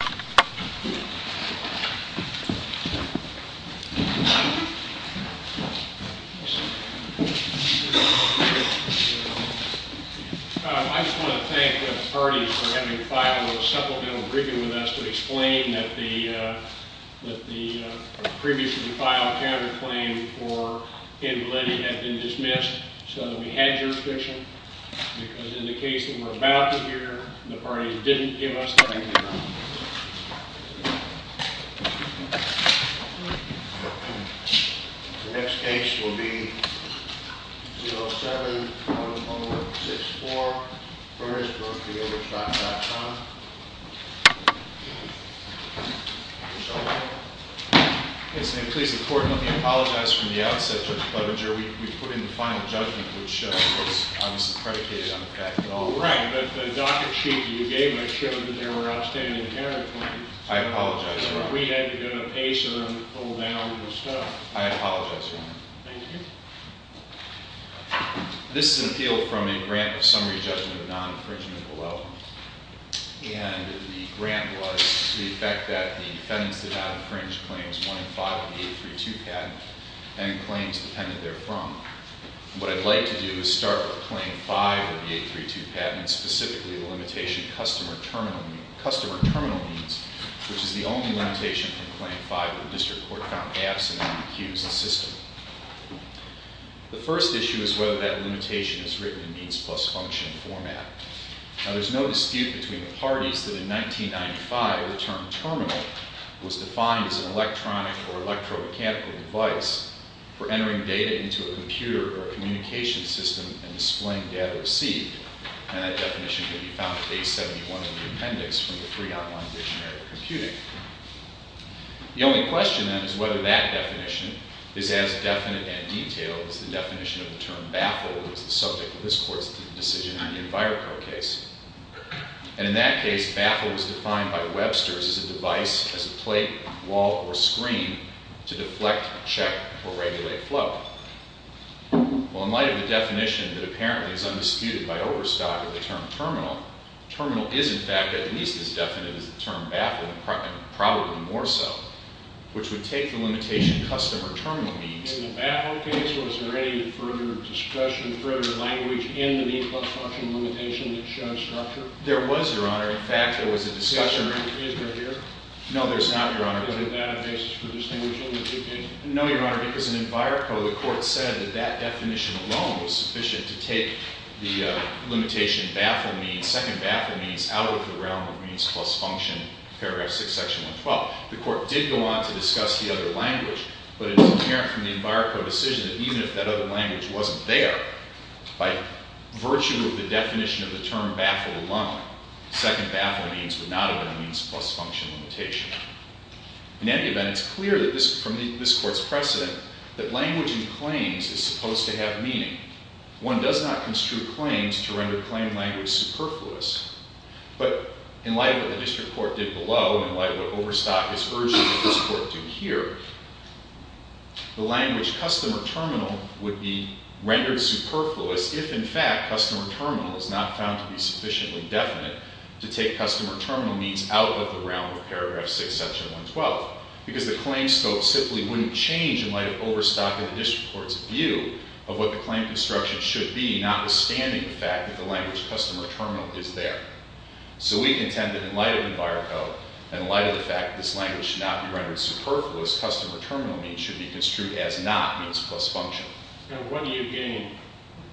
I just want to thank the parties for having filed a supplemental briefing with us to explain that the previously filed counterclaim for invalidity had been dismissed so that we had jurisdiction because in the case that we're about to hear, the parties didn't give us that information. The next case will be 07-1164, Furnace Brook v. Overstock.com. Mr. O'Connor. Yes, ma'am. Please, the court, let me apologize from the outset, Judge Clevenger. We put in the final judgment, which was obviously predicated on the fact that all- Right, but the docket sheet that you gave us showed that there were outstanding counterclaims. I apologize, Your Honor. We had to go to a pacer and pull down the stuff. I apologize, Your Honor. Thank you. This is an appeal from a grant of summary judgment of non-infringement below. And the grant was to the effect that the defendants did not infringe claims 1 and 5 of the 832 patent and claims depended therefrom. What I'd like to do is start with claim 5 of the 832 patent, specifically the limitation of customer terminal needs, which is the only limitation from claim 5 that the district court found absent in the accused's system. The first issue is whether that limitation is written in means plus function format. Now, there's no dispute between the parties that in 1995 the term terminal was defined as an electronic or electro-mechanical device for entering data into a computer or a communication system and displaying data received. And that definition can be found at page 71 of the appendix from the free online dictionary of computing. The only question, then, is whether that definition is as definite and detailed as the definition of the term baffle, which is the subject of this court's decision in the EnviroCard case. And in that case, baffle was defined by Webster's as a device, as a plate, wall, or screen to deflect, check, or regulate flow. Well, in light of the definition that apparently is undisputed by Overstock of the term terminal, terminal is, in fact, at least as definite as the term baffle and probably more so, which would take the limitation customer terminal needs. In the baffle case, was there any further discussion, further language in the need plus function limitation that shows structure? There was, Your Honor. In fact, there was a discussion. Is there here? No, there's not, Your Honor. Is there databases for distinguishing the two cases? No, Your Honor, because in EnviroCode, the court said that that definition alone was sufficient to take the limitation baffle means, second baffle means, out of the realm of means plus function, paragraph 6, section 112. The court did go on to discuss the other language, but it was apparent from the EnviroCode decision that even if that other language wasn't there, by virtue of the definition of the term baffle alone, second baffle means would not have been a means plus function limitation. In any event, it's clear from this court's precedent that language in claims is supposed to have meaning. One does not construe claims to render claim language superfluous. But in light of what the district court did below, in light of what Overstock is urging that this court do here, the language customer terminal would be rendered superfluous if, in fact, customer terminal is not found to be sufficiently definite to take customer terminal means out of the realm of paragraph 6, section 112. Because the claim scope simply wouldn't change in light of Overstock and the district court's view of what the claim construction should be, notwithstanding the fact that the language customer terminal is there. So we contend that in light of EnviroCode, in light of the fact that this language should not be rendered superfluous, customer terminal means should be construed as not means plus function. And what do you gain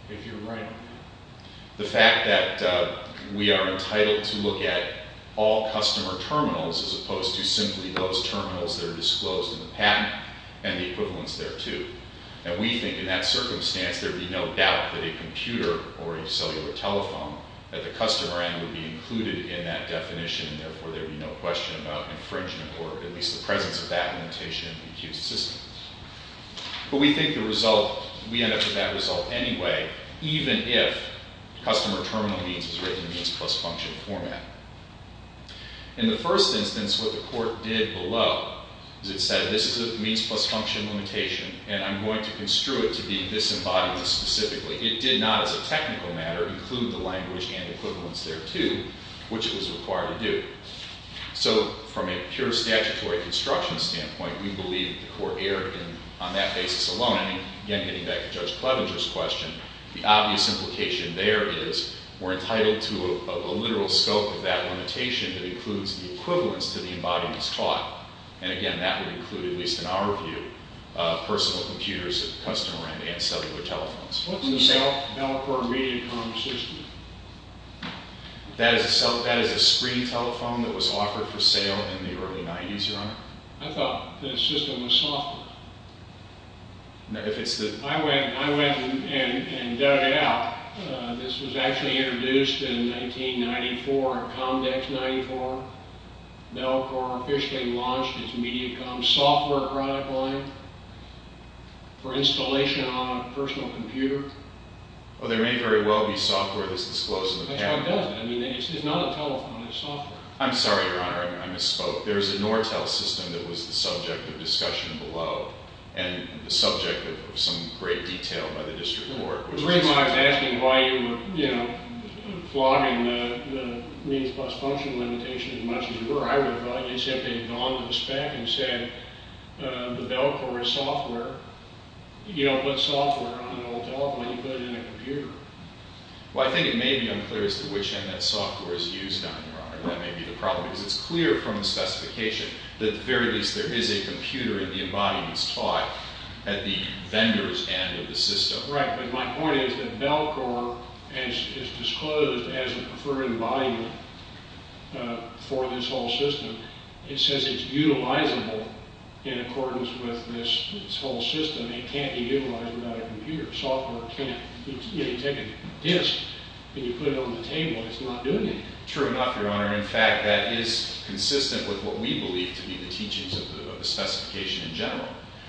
if you're right? The fact that we are entitled to look at all customer terminals as opposed to simply those terminals that are disclosed in the patent and the equivalence thereto. And we think in that circumstance, there would be no doubt that a computer or a cellular telephone at the customer end would be included in that definition. Therefore, there would be no question about infringement or at least the presence of that limitation in the accused's system. But we think the result, we end up with that result anyway, even if customer terminal means is written in means plus function format. In the first instance, what the court did below is it said, this is a means plus function limitation, and I'm going to construe it to be disembodied specifically. It did not, as a technical matter, include the language and equivalence thereto, which it was required to do. So from a pure statutory construction standpoint, we believe the court erred on that basis alone. And again, getting back to Judge Clevenger's question, the obvious implication there is we're entitled to a literal scope of that limitation that includes the equivalence to the embodiments taught. And again, that would include, at least in our view, personal computers at the customer end and cellular telephones. What's the Bellcore Mediacom system? That is a screen telephone that was offered for sale in the early 90s, Your Honor. I thought the system was software. I went and dug it out. This was actually introduced in 1994, Comdex 94. Bellcore officially launched its Mediacom software product line for installation on a personal computer. Well, there may very well be software that's disclosed in the patent. I mean, it's not a telephone. It's software. I'm sorry, Your Honor. I misspoke. There is a Nortel system that was the subject of discussion below and the subject of some great detail by the district court. The reason why I was asking why you were flogging the means plus function limitation as much as you were, I would have thought you said they had gone to the spec and said the Bellcore is software. You don't put software on an old telephone. You put it in a computer. Well, I think it may be unclear as to which end that software is used on, Your Honor. That may be the problem because it's clear from the specification that at the very least there is a computer and the embodiment is taught at the vendor's end of the system. Right, but my point is that Bellcore is disclosed as a preferred embodiment for this whole system. It says it's utilizable in accordance with this whole system. It can't be utilized without a computer. Software can't. If you take a disk and you put it on the table, it's not doing anything. True enough, Your Honor. In fact, that is consistent with what we believe to be the teachings of the specification in general.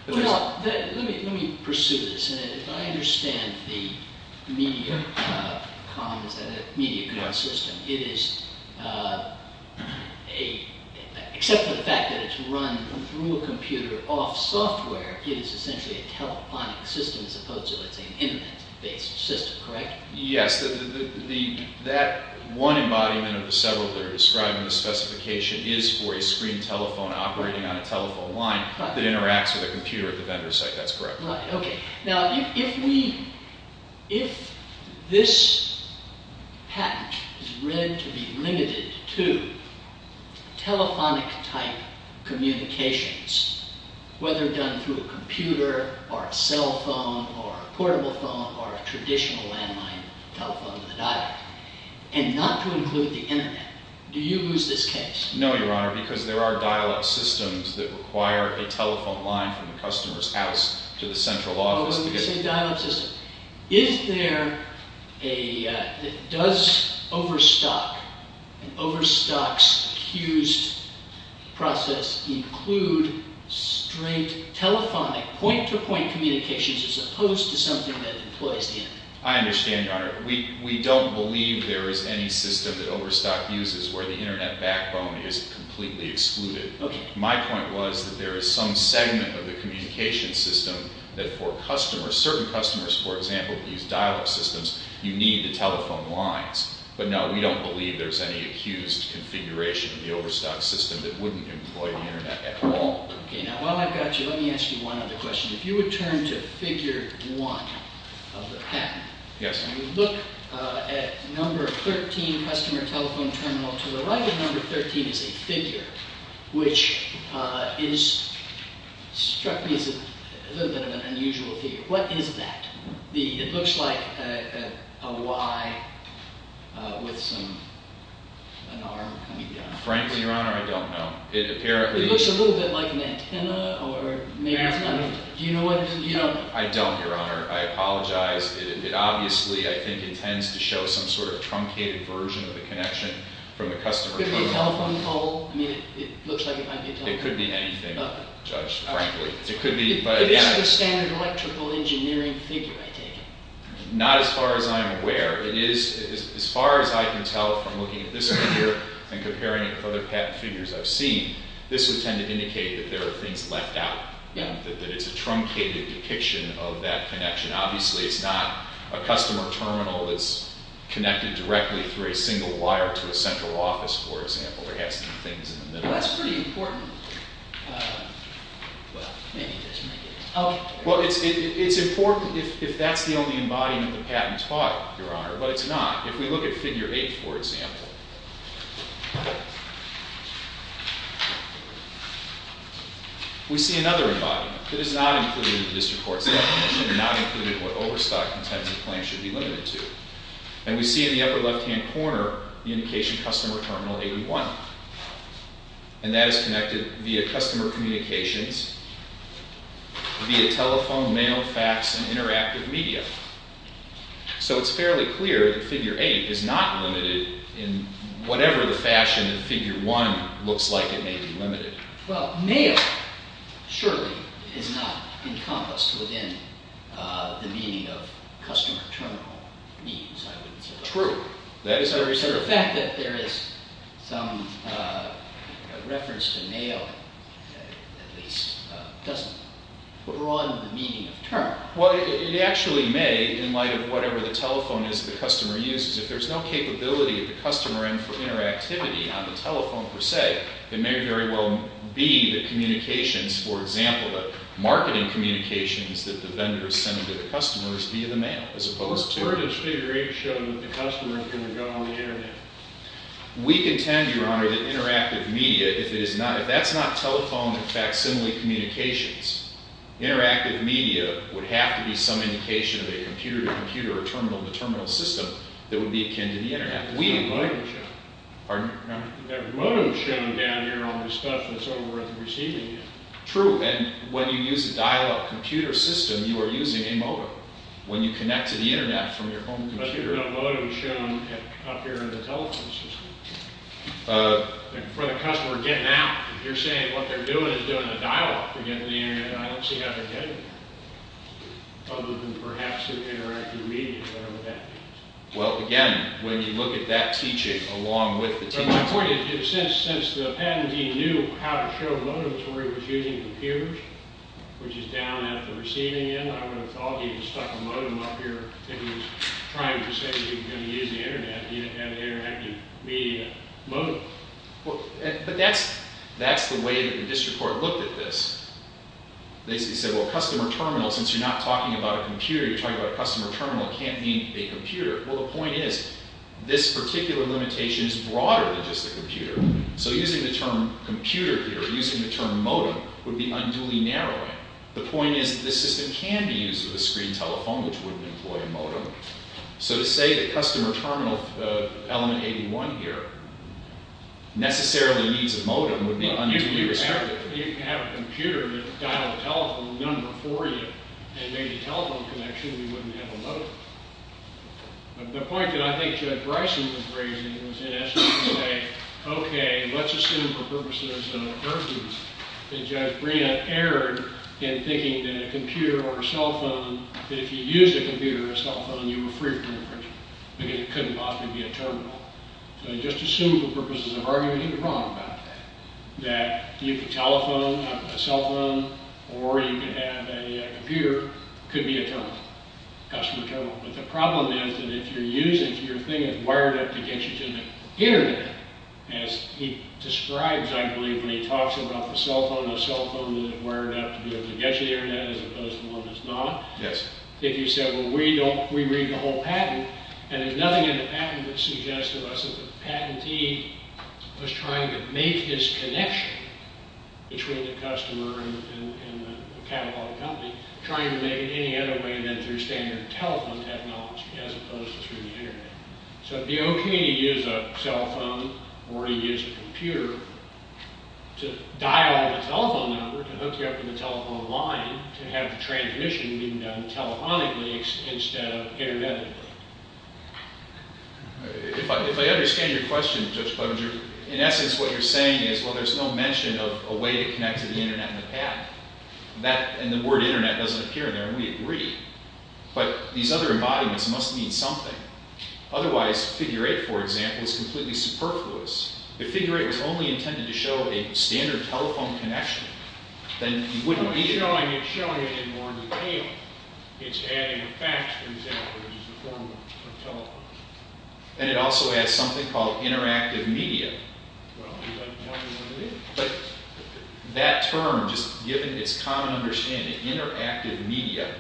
Well, let me pursue this. I understand the media comms system. It is, except for the fact that it's run through a computer off software, it is essentially a telephonic system as opposed to an internet-based system, correct? Yes. That one embodiment of the several that are described in the specification is for a screen telephone operating on a telephone line that interacts with a computer at the vendor's site. That's correct. Right, okay. Now, if this patent is read to be limited to telephonic-type communications, whether done through a computer or a cell phone or a portable phone or a traditional landline telephone with a dial-up, and not to include the internet, do you lose this case? No, Your Honor, because there are dial-up systems that require a telephone line from the customer's house to the central office. Oh, when you say dial-up system. Is there a, does Overstock, and Overstock's accused process include straight telephonic point-to-point communications as opposed to something that employs the internet? I understand, Your Honor. We don't believe there is any system that Overstock uses where the internet backbone is completely excluded. Okay. My point was that there is some segment of the communication system that for customers, certain customers, for example, that use dial-up systems, you need the telephone lines. But no, we don't believe there's any accused configuration in the Overstock system that wouldn't employ the internet at all. Okay, now while I've got you, let me ask you one other question. If you would turn to figure one of the patent. Yes. When you look at number 13, customer telephone terminal, to the right of number 13 is a figure, which struck me as a little bit of an unusual figure. What is that? It looks like a Y with some, an arm coming down. Frankly, Your Honor, I don't know. It looks a little bit like an antenna, or maybe it's not. Do you know what it is? I don't, Your Honor. I apologize. It obviously, I think, intends to show some sort of truncated version of the connection from the customer telephone. Could it be a telephone pole? I mean, it looks like it might be a telephone pole. It could be anything, Judge, frankly. But it's the standard electrical engineering figure, I take it. Not as far as I am aware. It is, as far as I can tell from looking at this figure and comparing it with other patent figures I've seen, this would tend to indicate that there are things left out. That it's a truncated depiction of that connection. Obviously, it's not a customer terminal that's connected directly through a single wire to a central office, for example. It has some things in the middle. That's pretty important. Well, it's important if that's the only embodiment the patent taught, Your Honor. But it's not. If we look at Figure 8, for example, we see another embodiment. It is not included in the District Court's definition. Not included in what Overstock Intensive Plan should be limited to. And we see in the upper left-hand corner the indication, Customer Terminal 81. And that is connected via customer communications, via telephone, mail, fax, and interactive media. So it's fairly clear that Figure 8 is not limited in whatever the fashion that Figure 1 looks like it may be limited. Well, mail surely is not encompassed within the meaning of customer terminal means, I would say. True. That is very true. So the fact that there is some reference to mail, at least, doesn't broaden the meaning of term. Well, it actually may, in light of whatever the telephone is the customer uses. If there's no capability of the customer and for interactivity on the telephone, per se, it may very well be the communications, for example, the marketing communications, that the vendors send to the customers via the mail, as opposed to Well, where does Figure 8 show that the customer is going to go on the internet? We contend, Your Honor, that interactive media, if that's not telephone and facsimile communications, interactive media would have to be some indication of a computer-to-computer or terminal-to-terminal system that would be akin to the internet. That's not a modem shown. Pardon? That modem is shown down here on the stuff that's over at the receiving end. True. And when you use a dial-up computer system, you are using a modem. When you connect to the internet from your home computer. But there's no modem shown up here in the telephone system. For the customer getting out, if you're saying what they're doing is doing a dial-up to get to the internet, I don't see how they're getting there. Other than perhaps through interactive media, whatever that means. Well, again, when you look at that teaching along with the teaching... But my point is, since the patentee knew how to show modems where he was using computers, which is down at the receiving end, I would have thought he had stuck a modem up here if he was trying to say that he was going to use the internet, he didn't have an interactive media modem. But that's the way that the district court looked at this. They said, well, customer terminal, since you're not talking about a computer, you're talking about a customer terminal, it can't mean a computer. Well, the point is, this particular limitation is broader than just a computer. So using the term computer here, using the term modem, would be unduly narrowing. The point is that this system can be used with a screen telephone, which wouldn't employ a modem. So to say that customer terminal element 81 here necessarily needs a modem would be unduly restrictive. If you have a computer that dialed a telephone number for you and made a telephone connection, we wouldn't have a modem. The point that I think Judge Bryson was raising was in essence to say, okay, let's assume for purposes of urgency that Judge Bryon erred in thinking that a computer or a cell phone, that if you use a computer or a cell phone, you were free from infringement. It couldn't possibly be a terminal. So just assume for purposes of argument, he was wrong about that, that you could telephone a cell phone or you could have a computer, it could be a terminal, customer terminal. But the problem is that if you're using it, it's wired up to get you to the Internet. As he describes, I believe, when he talks about the cell phone, a cell phone that is wired up to be able to get you to the Internet as opposed to one that's not. If you said, well, we read the whole patent, and there's nothing in the patent that suggests to us that the patentee was trying to make his connection between the customer and the catalog company, trying to make it any other way than through standard telephone technology as opposed to through the Internet. So it would be okay to use a cell phone or to use a computer to dial a telephone number to hook you up to the telephone line to have the transmission being done telephonically instead of Internetically. If I understand your question, Judge Clevenger, in essence what you're saying is, well, there's no mention of a way to connect to the Internet in the patent, and the word Internet doesn't appear there, and we agree. But these other embodiments must mean something. Otherwise, Figure 8, for example, is completely superfluous. If Figure 8 was only intended to show a standard telephone connection, then you wouldn't need it. It's showing it in more detail. It's adding a fax, for example, which is a form of telephone. And it also has something called interactive media. Well, it doesn't tell you what it is. But that term, just given its common understanding, interactive media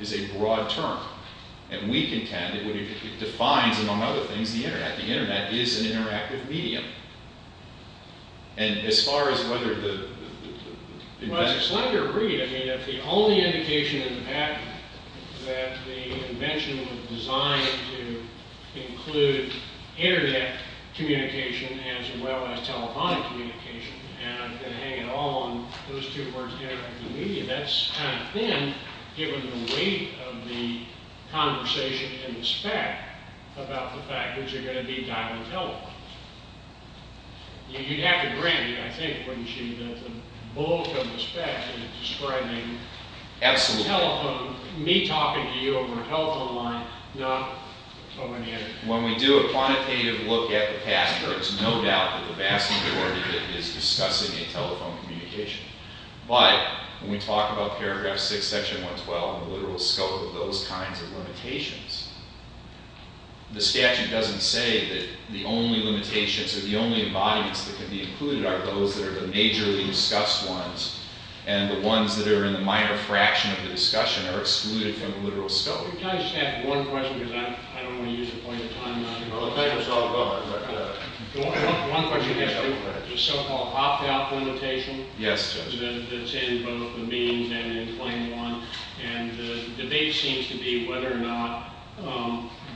is a broad term. And we contend that it defines, among other things, the Internet. The Internet is an interactive medium. And as far as whether the invention... Well, I just like your read. I mean, if the only indication in the patent that the invention was designed to include Internet communication as well as telephonic communication, and I'm going to hang it all on those two words, interactive media, that's kind of thin given the weight of the conversation in the spec about the fact that you're going to be dialing telephones. You'd have to grant it, I think, wouldn't you, that the bulk of the spec is describing telephone, me talking to you over a telephone line, not... When we do a quantitative look at the password, there's no doubt that the vast majority of it is discussing a telephone communication. But when we talk about paragraph 6, section 112, the literal scope of those kinds of limitations, the statute doesn't say that the only limitations or the only embodiments that could be included are those that are the majorly discussed ones and the ones that are in the minor fraction of the discussion are excluded from the literal scope. Can I just ask one question? I don't want to use the point of time. One question is the so-called opt-out limitation that's in both the means and in claim 1, and the debate seems to be whether or not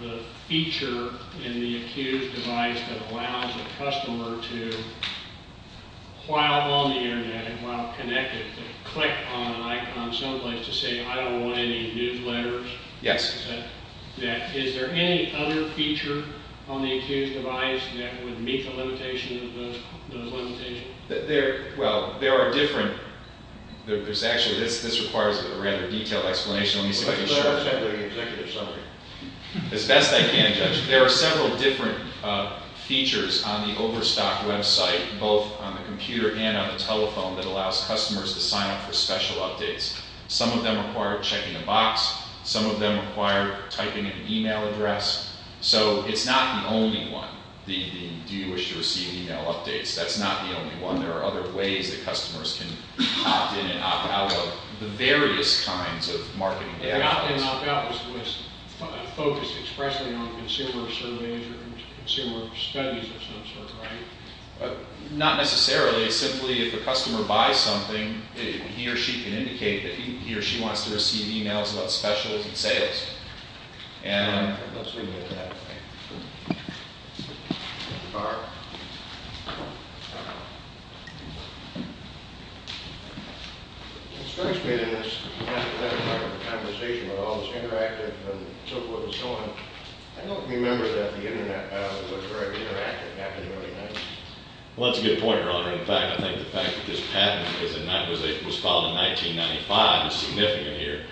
the feature in the accused device that allows the customer to while on the Internet and while connected to click on an icon someplace to say, I don't want any newsletters. Yes. Is there any other feature on the accused device that would meet the limitation of those limitations? Well, there are different... Actually, this requires a rather detailed explanation. Let me see if I can show it. As best I can, Judge. There are several different features on the Overstock website, both on the computer and on the telephone, that allows customers to sign up for special updates. Some of them require checking a box. Some of them require typing in an e-mail address. So it's not the only one, the do you wish to receive e-mail updates. That's not the only one. There are other ways that customers can opt in and opt out of the various kinds of marketing... The opt-in and opt-out was focused expressly on consumer surveys or consumer studies of some sort, right? Not necessarily. Simply, if a customer buys something, he or she can indicate that he or she wants to receive e-mails about specials and sales. And... Let's leave it at that. Mr. Barr? It strikes me that in this hypothetical conversation with all this interactive and so forth and so on, I don't remember that the Internet was very interactive after the Money Heist. Well, that's a good point, Your Honor. In fact, I think the fact that this patent was filed in 1995 is significant here.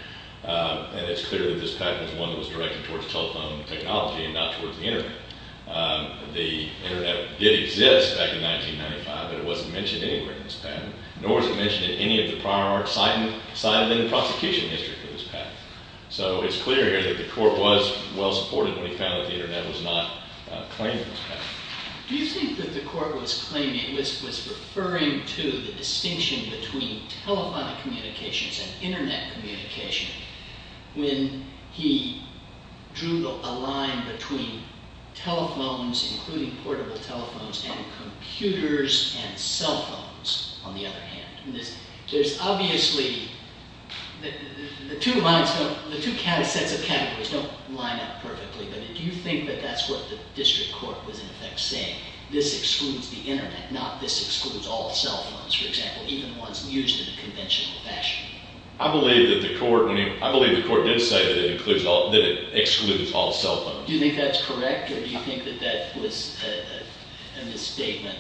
And it's clear that this patent was one that was directed towards telephone technology and not towards the Internet. The Internet did exist back in 1995, but it wasn't mentioned anywhere in this patent, nor was it mentioned in any of the prior arts cited in the prosecution history for this patent. So it's clear here that the court was well-supported when it found that the Internet was not claiming this patent. Do you think that the court was claiming... was referring to the distinction between telephonic communications and Internet communication when he drew a line between telephones, including portable telephones, and computers and cell phones, on the other hand? There's obviously... The two sets of categories don't line up perfectly, but do you think that that's what the district court was in effect saying? This excludes the Internet, not this excludes all cell phones, for example, even ones used in a conventional fashion? I believe that the court... I believe the court did say that it excludes all cell phones. Do you think that's correct, or do you think that that was a misstatement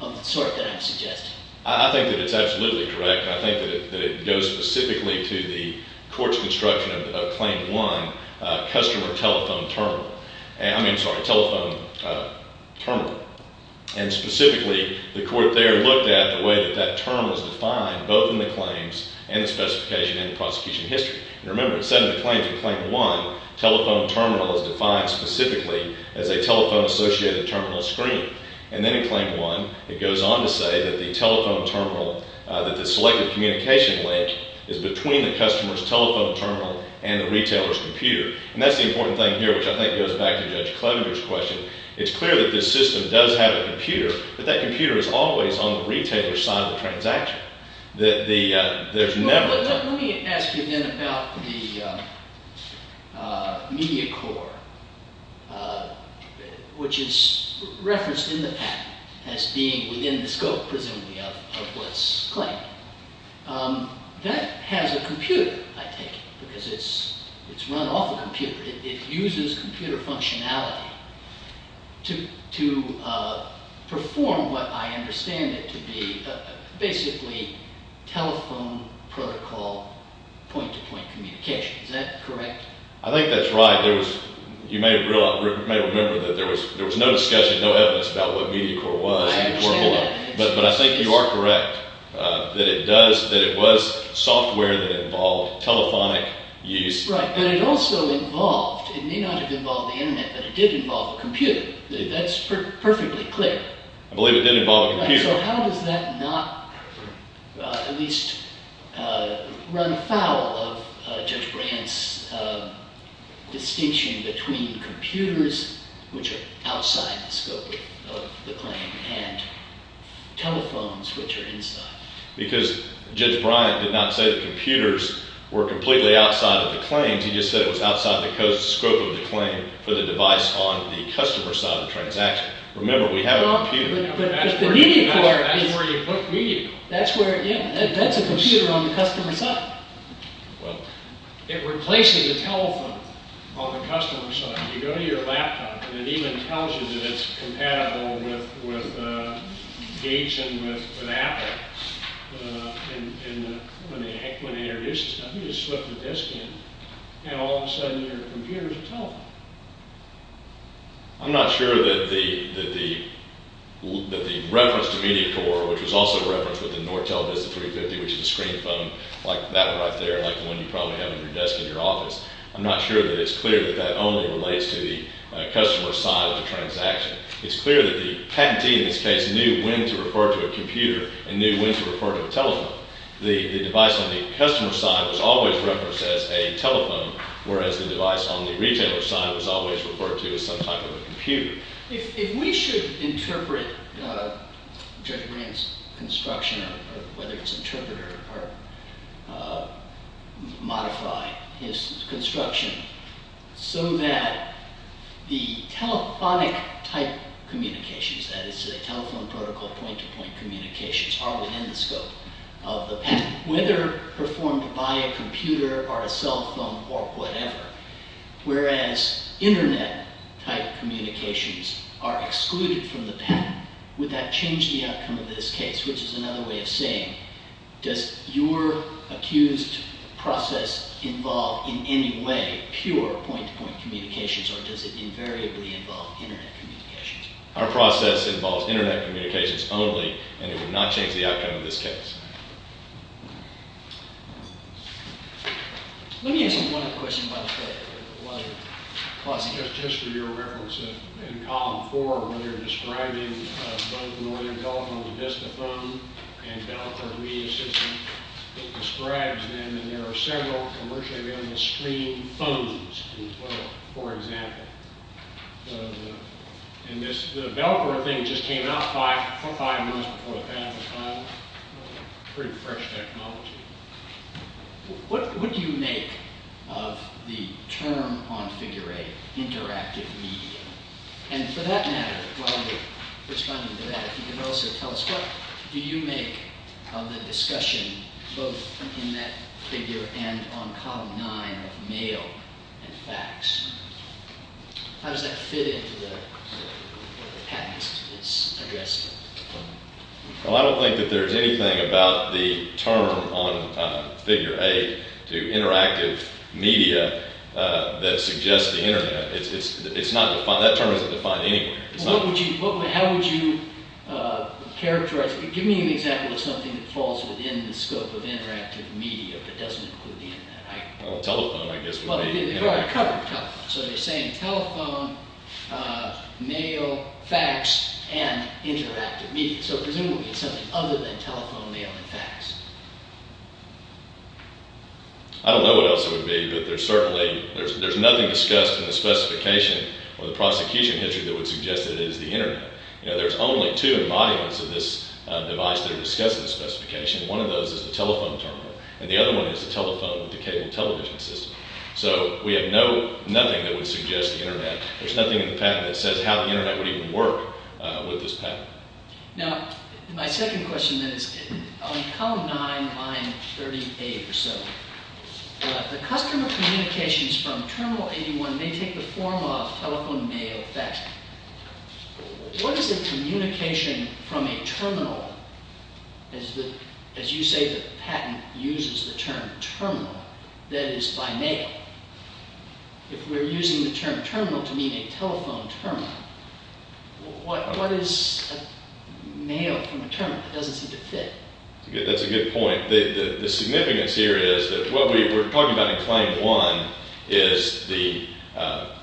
of the sort that I'm suggesting? I think that it's absolutely correct. I think that it goes specifically to the court's construction of Claim 1, customer telephone terminal. I mean, sorry, telephone terminal. And specifically, the court there looked at the way that that term was defined, both in the claims and the specification and the prosecution history. And remember, instead of the claims in Claim 1, telephone terminal is defined specifically as a telephone-associated terminal screen. And then in Claim 1, it goes on to say that the telephone terminal... that the selected communication link is between the customer's telephone terminal and the retailer's computer. And that's the important thing here, which I think goes back to Judge Klobuchar's question. It's clear that this system does have a computer, but that computer is always on the retailer's side of the transaction. There's never... Let me ask you then about the media core, which is referenced in the patent as being within the scope, presumably, of what's claimed. That has a computer, I take it, because it's run off a computer. It uses computer functionality to perform what I understand it to be basically telephone protocol point-to-point communication. Is that correct? I think that's right. You may remember that there was no discussion, no evidence about what media core was. I understand. But I think you are correct that it was software that involved telephonic use. Right, but it also involved... It may not have involved the Internet, but it did involve a computer. That's perfectly clear. I believe it did involve a computer. So how does that not at least run afoul of Judge Bryant's distinction between computers, which are outside the scope of the claim, and telephones, which are inside? Because Judge Bryant did not say that computers were completely outside of the claims. He just said it was outside the scope of the claim for the device on the customer side of the transaction. Remember, we have a computer. But the media core... That's where you put media core. Yeah, that's a computer on the customer side. Well... If we're placing a telephone on the customer side, you go to your laptop, and it even tells you that it's compatible with Gates and with Apple. And when it introduces stuff, you just slip the disk in, and all of a sudden, your computer's a telephone. I'm not sure that the reference to media core, which was also referenced with the Nortel Vista 350, which is a screen phone like that right there, like the one you probably have on your desk in your office, I'm not sure that it's clear that that only relates to the customer side of the transaction. It's clear that the patentee in this case knew when to refer to a computer and knew when to refer to a telephone. The device on the customer side was always referenced as a telephone, whereas the device on the retailer side was always referred to as some type of a computer. If we should interpret Jerry Green's construction, whether it's interpreter or modify his construction, so that the telephonic type communications, that is telephone protocol point-to-point communications, are within the scope of the patent, whether performed by a computer or a cell phone or whatever, whereas internet type communications are excluded from the patent, would that change the outcome of this case, which is another way of saying, does your accused process involve, in any way, pure point-to-point communications, or does it invariably involve internet communications? Our process involves internet communications only, and it would not change the outcome of this case. Let me ask you one other question, by the way. Just for your reference, in column four, where you're describing both the Northern California Vista phone and Velcro media system, it describes them, and there are several commercially available screen phones in Florida, for example. The Velcro thing just came out five months before the patent was filed. Pretty fresh technology. What would you make of the term on figure eight, interactive media? And for that matter, while you're responding to that, you can also tell us, what do you make of the discussion, both in that figure and on column nine, of mail and fax? How does that fit into what the patent is addressing? Well, I don't think that there's anything about the term on figure eight to interactive media that suggests the internet. It's not defined. That term isn't defined anywhere. Well, how would you characterize it? Give me an example of something that falls within the scope of interactive media, but doesn't include the internet. Well, telephone, I guess, would be interactive. Well, they've already covered telephone. So they're saying telephone, mail, fax, and interactive media. So presumably, it's something other than telephone, mail, and fax. I don't know what else it would be, but there's certainly... There's nothing discussed in the specification or the prosecution history that would suggest that it is the internet. There's only two embodiments of this device that are discussed in the specification. One of those is the telephone terminal, and the other one is the telephone with the cable television system. So we have nothing that would suggest the internet. There's nothing in the patent that says how the internet would even work with this patent. Now, my second question, then, is on column nine, line 38 or so, the customer communications from Terminal 81 may take the form of telephone, mail, fax. What is the communication from a terminal, as you say the patent uses the term terminal, that is by mail? If we're using the term terminal to mean a telephone terminal, what is a mail from a terminal? It doesn't seem to fit. That's a good point. The significance here is that what we're talking about in Claim 1 is the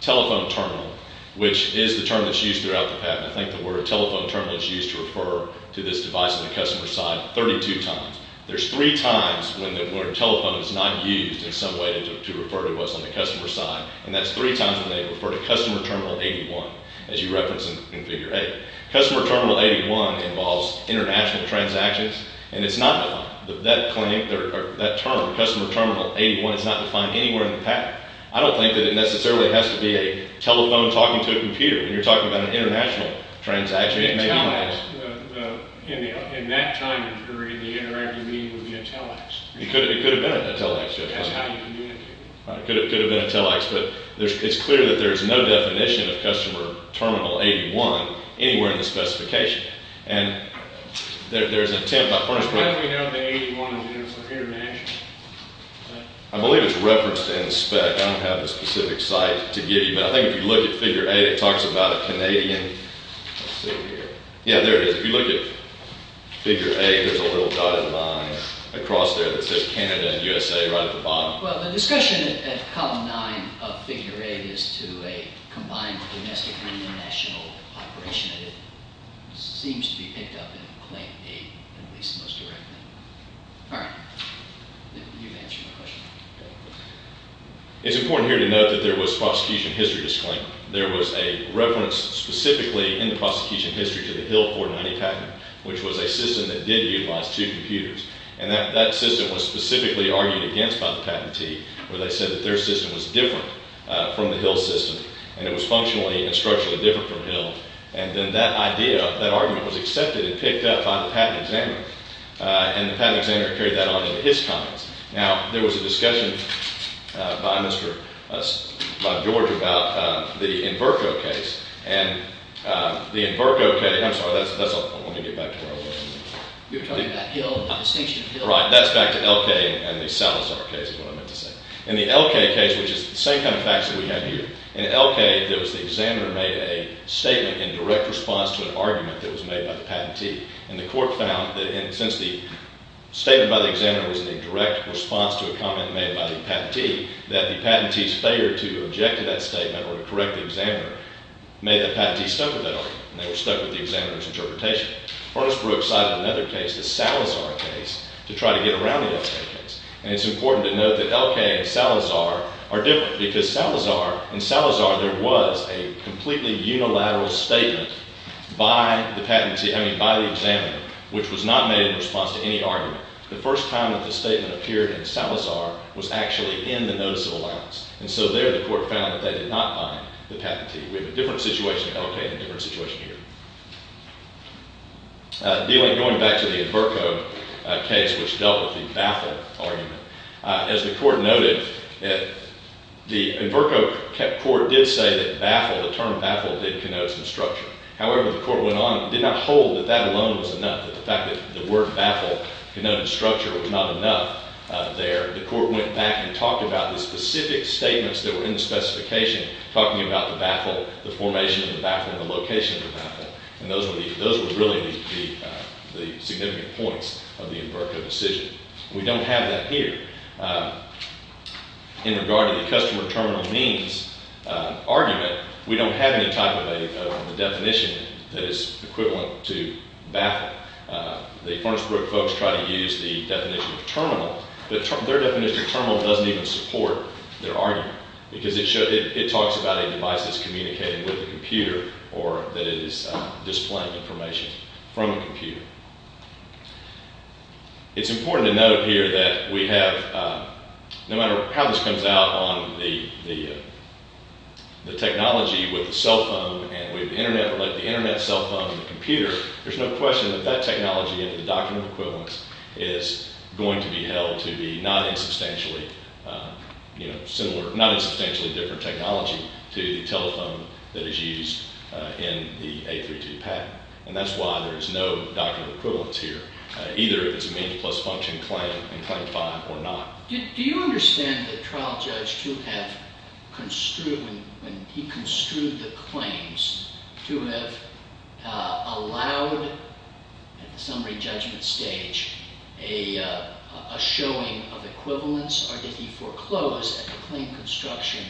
telephone terminal, which is the term that's used throughout the patent. I think the word telephone terminal is used to refer to this device on the customer's side 32 times. There's three times when the word telephone is not used in some way to refer to what's on the customer's side, and that's three times when they refer to Customer Terminal 81, as you reference in Figure 8. Customer Terminal 81 involves international transactions, and it's not defined. That term, Customer Terminal 81, is not defined anywhere in the patent. I don't think that it necessarily has to be a telephone talking to a computer, when you're talking about an international transaction. In that time period, the interactive meeting would be a telex. It could have been a telex. That's how you communicate. It could have been a telex, but it's clear that there's no definition of Customer Terminal 81 anywhere in the specification. There's an attempt by... How do we know the 81 is international? I believe it's referenced in spec. I don't have the specific site to give you, but I think if you look at Figure 8, it talks about a Canadian... Let's see here. Yeah, there it is. If you look at Figure 8, there's a little dotted line across there that says Canada and USA right at the bottom. Well, the discussion at Column 9 of Figure 8 is to a combined domestic and international operation, and it seems to be picked up in Claim 8, at least most directly. All right. You've answered my question. It's important here to note that there was prosecution history to Sklink. There was a reference specifically in the prosecution history to the Hill 490 patent, which was a system that did utilize two computers, and that system was specifically argued against by the patentee, where they said that their system was different from the Hill system, and it was functionally and structurally different from Hill, and then that idea, that argument was accepted and picked up by the patent examiner, and the patent examiner carried that on into his comments. Now, there was a discussion by George about the Inverco case, and the Inverco case... I'm sorry, that's... Let me get back to where I was. You were talking about Hill and the distinction of Hill. Right. That's back to Elkay and the Salazar case, is what I meant to say. In the Elkay case, which is the same kind of facts that we have here, in Elkay, the examiner made a statement in direct response to an argument that was made by the patentee, and the court found that since the statement by the examiner was in a direct response to a comment made by the patentee, that the patentee's failure to object to that statement or to correct the examiner made the patentee stuck with that argument, and they were stuck with the examiner's interpretation. Ernest Brooks cited another case, the Salazar case, to try to get around the Elkay case, and it's important to note that Elkay and Salazar are different because in Salazar there was a completely unilateral statement by the examiner which was not made in response to any argument. The first time that the statement appeared in Salazar was actually in the notice of allowance, and so there the court found that they did not bind the patentee. We have a different situation in Elkay and a different situation here. Going back to the Enverco case, which dealt with the baffle argument, as the court noted, the Enverco court did say that baffle, the term baffle, did connote some structure. However, the court went on and did not hold that that alone was enough, that the fact that the word baffle connoted structure was not enough there. The court went back and talked about the specific statements that were in the specification, talking about the baffle, the formation of the baffle, and the location of the baffle, and those were really the significant points of the Enverco decision. We don't have that here. In regard to the customer terminal means argument, we don't have any type of a definition that is equivalent to baffle. Their definition of terminal doesn't even support their argument because it talks about a device that's communicating with a computer or that it is displaying information from a computer. It's important to note here that we have, no matter how this comes out on the technology with the cell phone and with the Internet, or like the Internet, cell phone, and the computer, there's no question that that technology under the doctrine of equivalence is going to be held to be not in substantially different technology to the telephone that is used in the 832 patent, and that's why there is no doctrine of equivalence here, either if it's a means plus function claim and claim 5 or not. Do you understand the trial judge to have construed, when he construed the claims, to have allowed, at the summary judgment stage, a showing of equivalence, or did he foreclose at the claim construction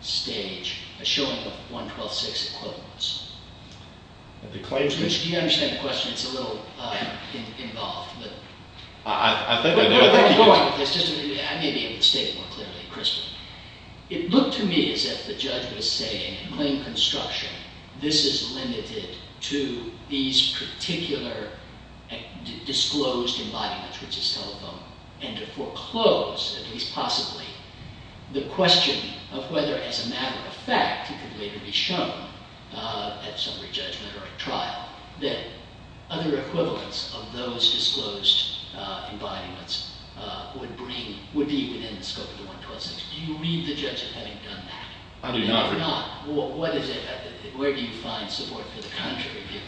stage a showing of 112.6 equivalence? Do you understand the question? It's a little involved. I think I do. I may be able to state more clearly, Christopher. It looked to me as if the judge was saying, in claim construction, this is limited to these particular disclosed embodiments, which is telephone, and to foreclose, at least possibly, the question of whether, as a matter of fact, it could later be shown at summary judgment or at trial, that other equivalence of those disclosed embodiments would be within the scope of the 112.6. Do you read the judge as having done that? I do not. And if not, where do you find support for the contrary view?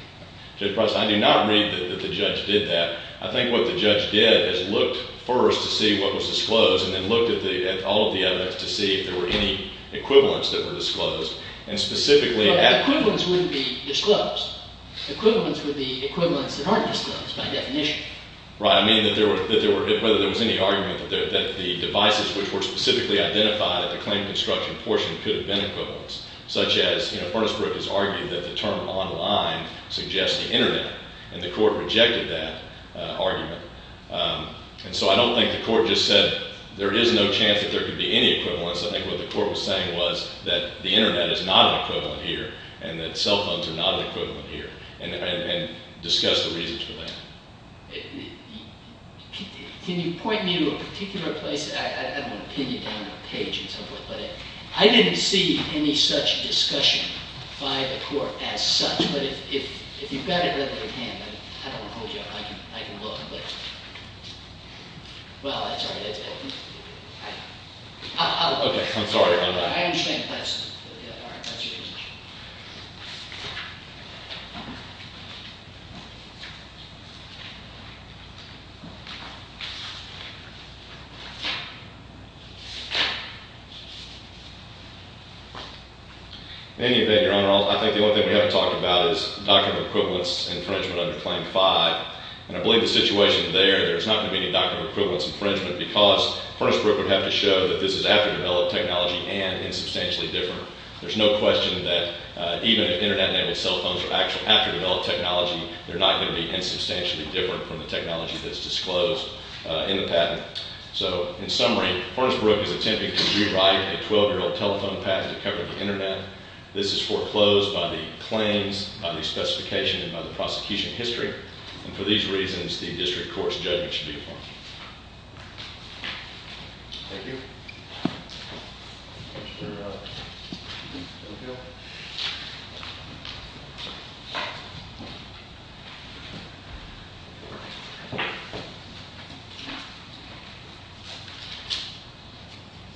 Judge Prosser, I do not read that the judge did that. I think what the judge did is looked first to see what was disclosed and then looked at all of the evidence to see if there were any equivalents that were disclosed. But equivalents wouldn't be disclosed. Equivalents would be equivalents that aren't disclosed, by definition. Right. I mean whether there was any argument that the devices which were specifically identified at the claim construction portion could have been equivalents, such as Ernst Brook has argued that the term online suggests the internet, and the court rejected that argument. And so I don't think the court just said there is no chance that there could be any equivalents. I think what the court was saying was that the internet is not an equivalent here and that cell phones are not an equivalent here, and discuss the reasons for that. Can you point me to a particular place? I don't want to pin you down on a page and so forth. But I didn't see any such discussion by the court as such. But if you've got it, let me know. I don't want to hold you up. I can look. Well, that's all right. I'm sorry. I'm not. I understand. All right. Thank you. In any event, Your Honor, I think the only thing we haven't talked about is document equivalence infringement under Claim 5. And I believe the situation there, there's not going to be any document equivalence infringement because Ernst Brook would have to show that this is after-developed technology and is substantially different. There's no question that even if internet-enabled cell phones are actually after-developed technology, they're not going to be insubstantially different from the technology that's disclosed in the patent. So in summary, Ernst Brook is attempting to rewrite a 12-year-old telephone patent to cover the internet. This is foreclosed by the claims, by the specification, and by the prosecution history. And for these reasons, the district court's judgment should be affirmed. Thank you. Thank you.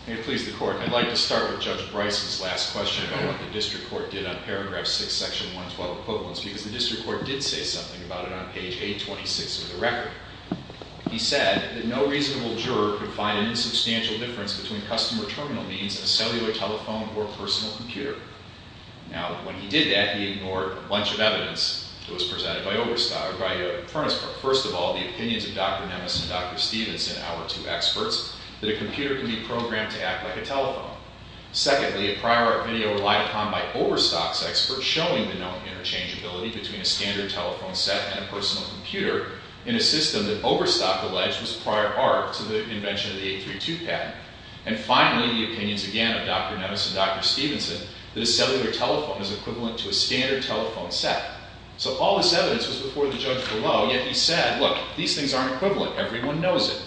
May it please the Court, I'd like to start with Judge Bryce's last question about what the district court did on paragraph 6, section 112, equivalence, because the district court did say something about it on page 826 of the record. He said that no reasonable juror could find an insubstantial difference between customer terminal means, a cellular telephone, or a personal computer. Now, when he did that, he ignored a bunch of evidence that was presented by Ernst Brook. First of all, the opinions of Dr. Nemes and Dr. Stephenson, our two experts, that a computer can be programmed to act like a telephone. Secondly, a prior video relied upon by Overstock's experts showing the known interchangeability between a standard telephone set and a personal computer in a system that Overstock alleged was prior art to the invention of the 832 patent. And finally, the opinions, again, of Dr. Nemes and Dr. Stephenson, that a cellular telephone is equivalent to a standard telephone set. So all this evidence was before the judge below, yet he said, look, these things aren't equivalent. Everyone knows it.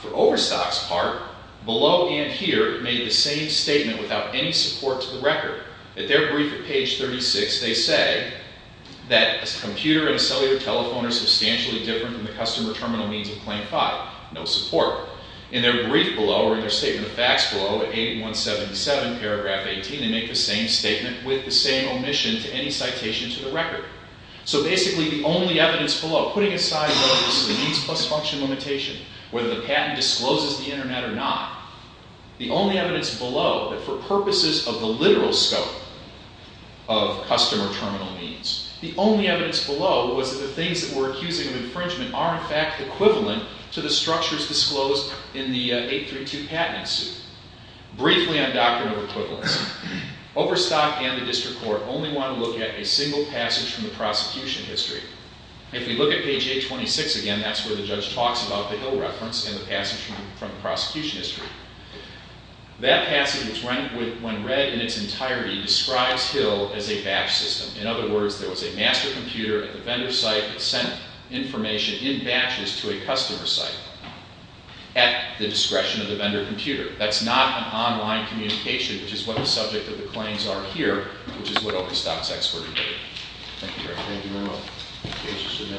For Overstock's part, below and here, it made the same statement without any support to the record. At their brief at page 36, they say that a computer and a cellular telephone are substantially different from the customer terminal means of Claim 5. No support. In their brief below, or in their statement of facts below, at 8177, paragraph 18, they make the same statement with the same omission to any citation to the record. So basically, the only evidence below, putting aside whether this is a means plus function limitation, whether the patent discloses the Internet or not, the only evidence below that for purposes of the literal scope of customer terminal means, the only evidence below was that the things that we're accusing of infringement are in fact equivalent to the structures disclosed in the 832 patent suit. Briefly on doctrine of equivalence. Overstock and the District Court only want to look at a single passage from the prosecution history. If we look at page 826 again, that's where the judge talks about the Hill reference and the passage from the prosecution history. That passage, when read in its entirety, describes Hill as a batch system. In other words, there was a master computer at the vendor site that sent information in batches to a customer site at the discretion of the vendor computer. That's not an online communication, which is what the subject of the claims are here, which is what Overstock's expertly did. Thank you very much.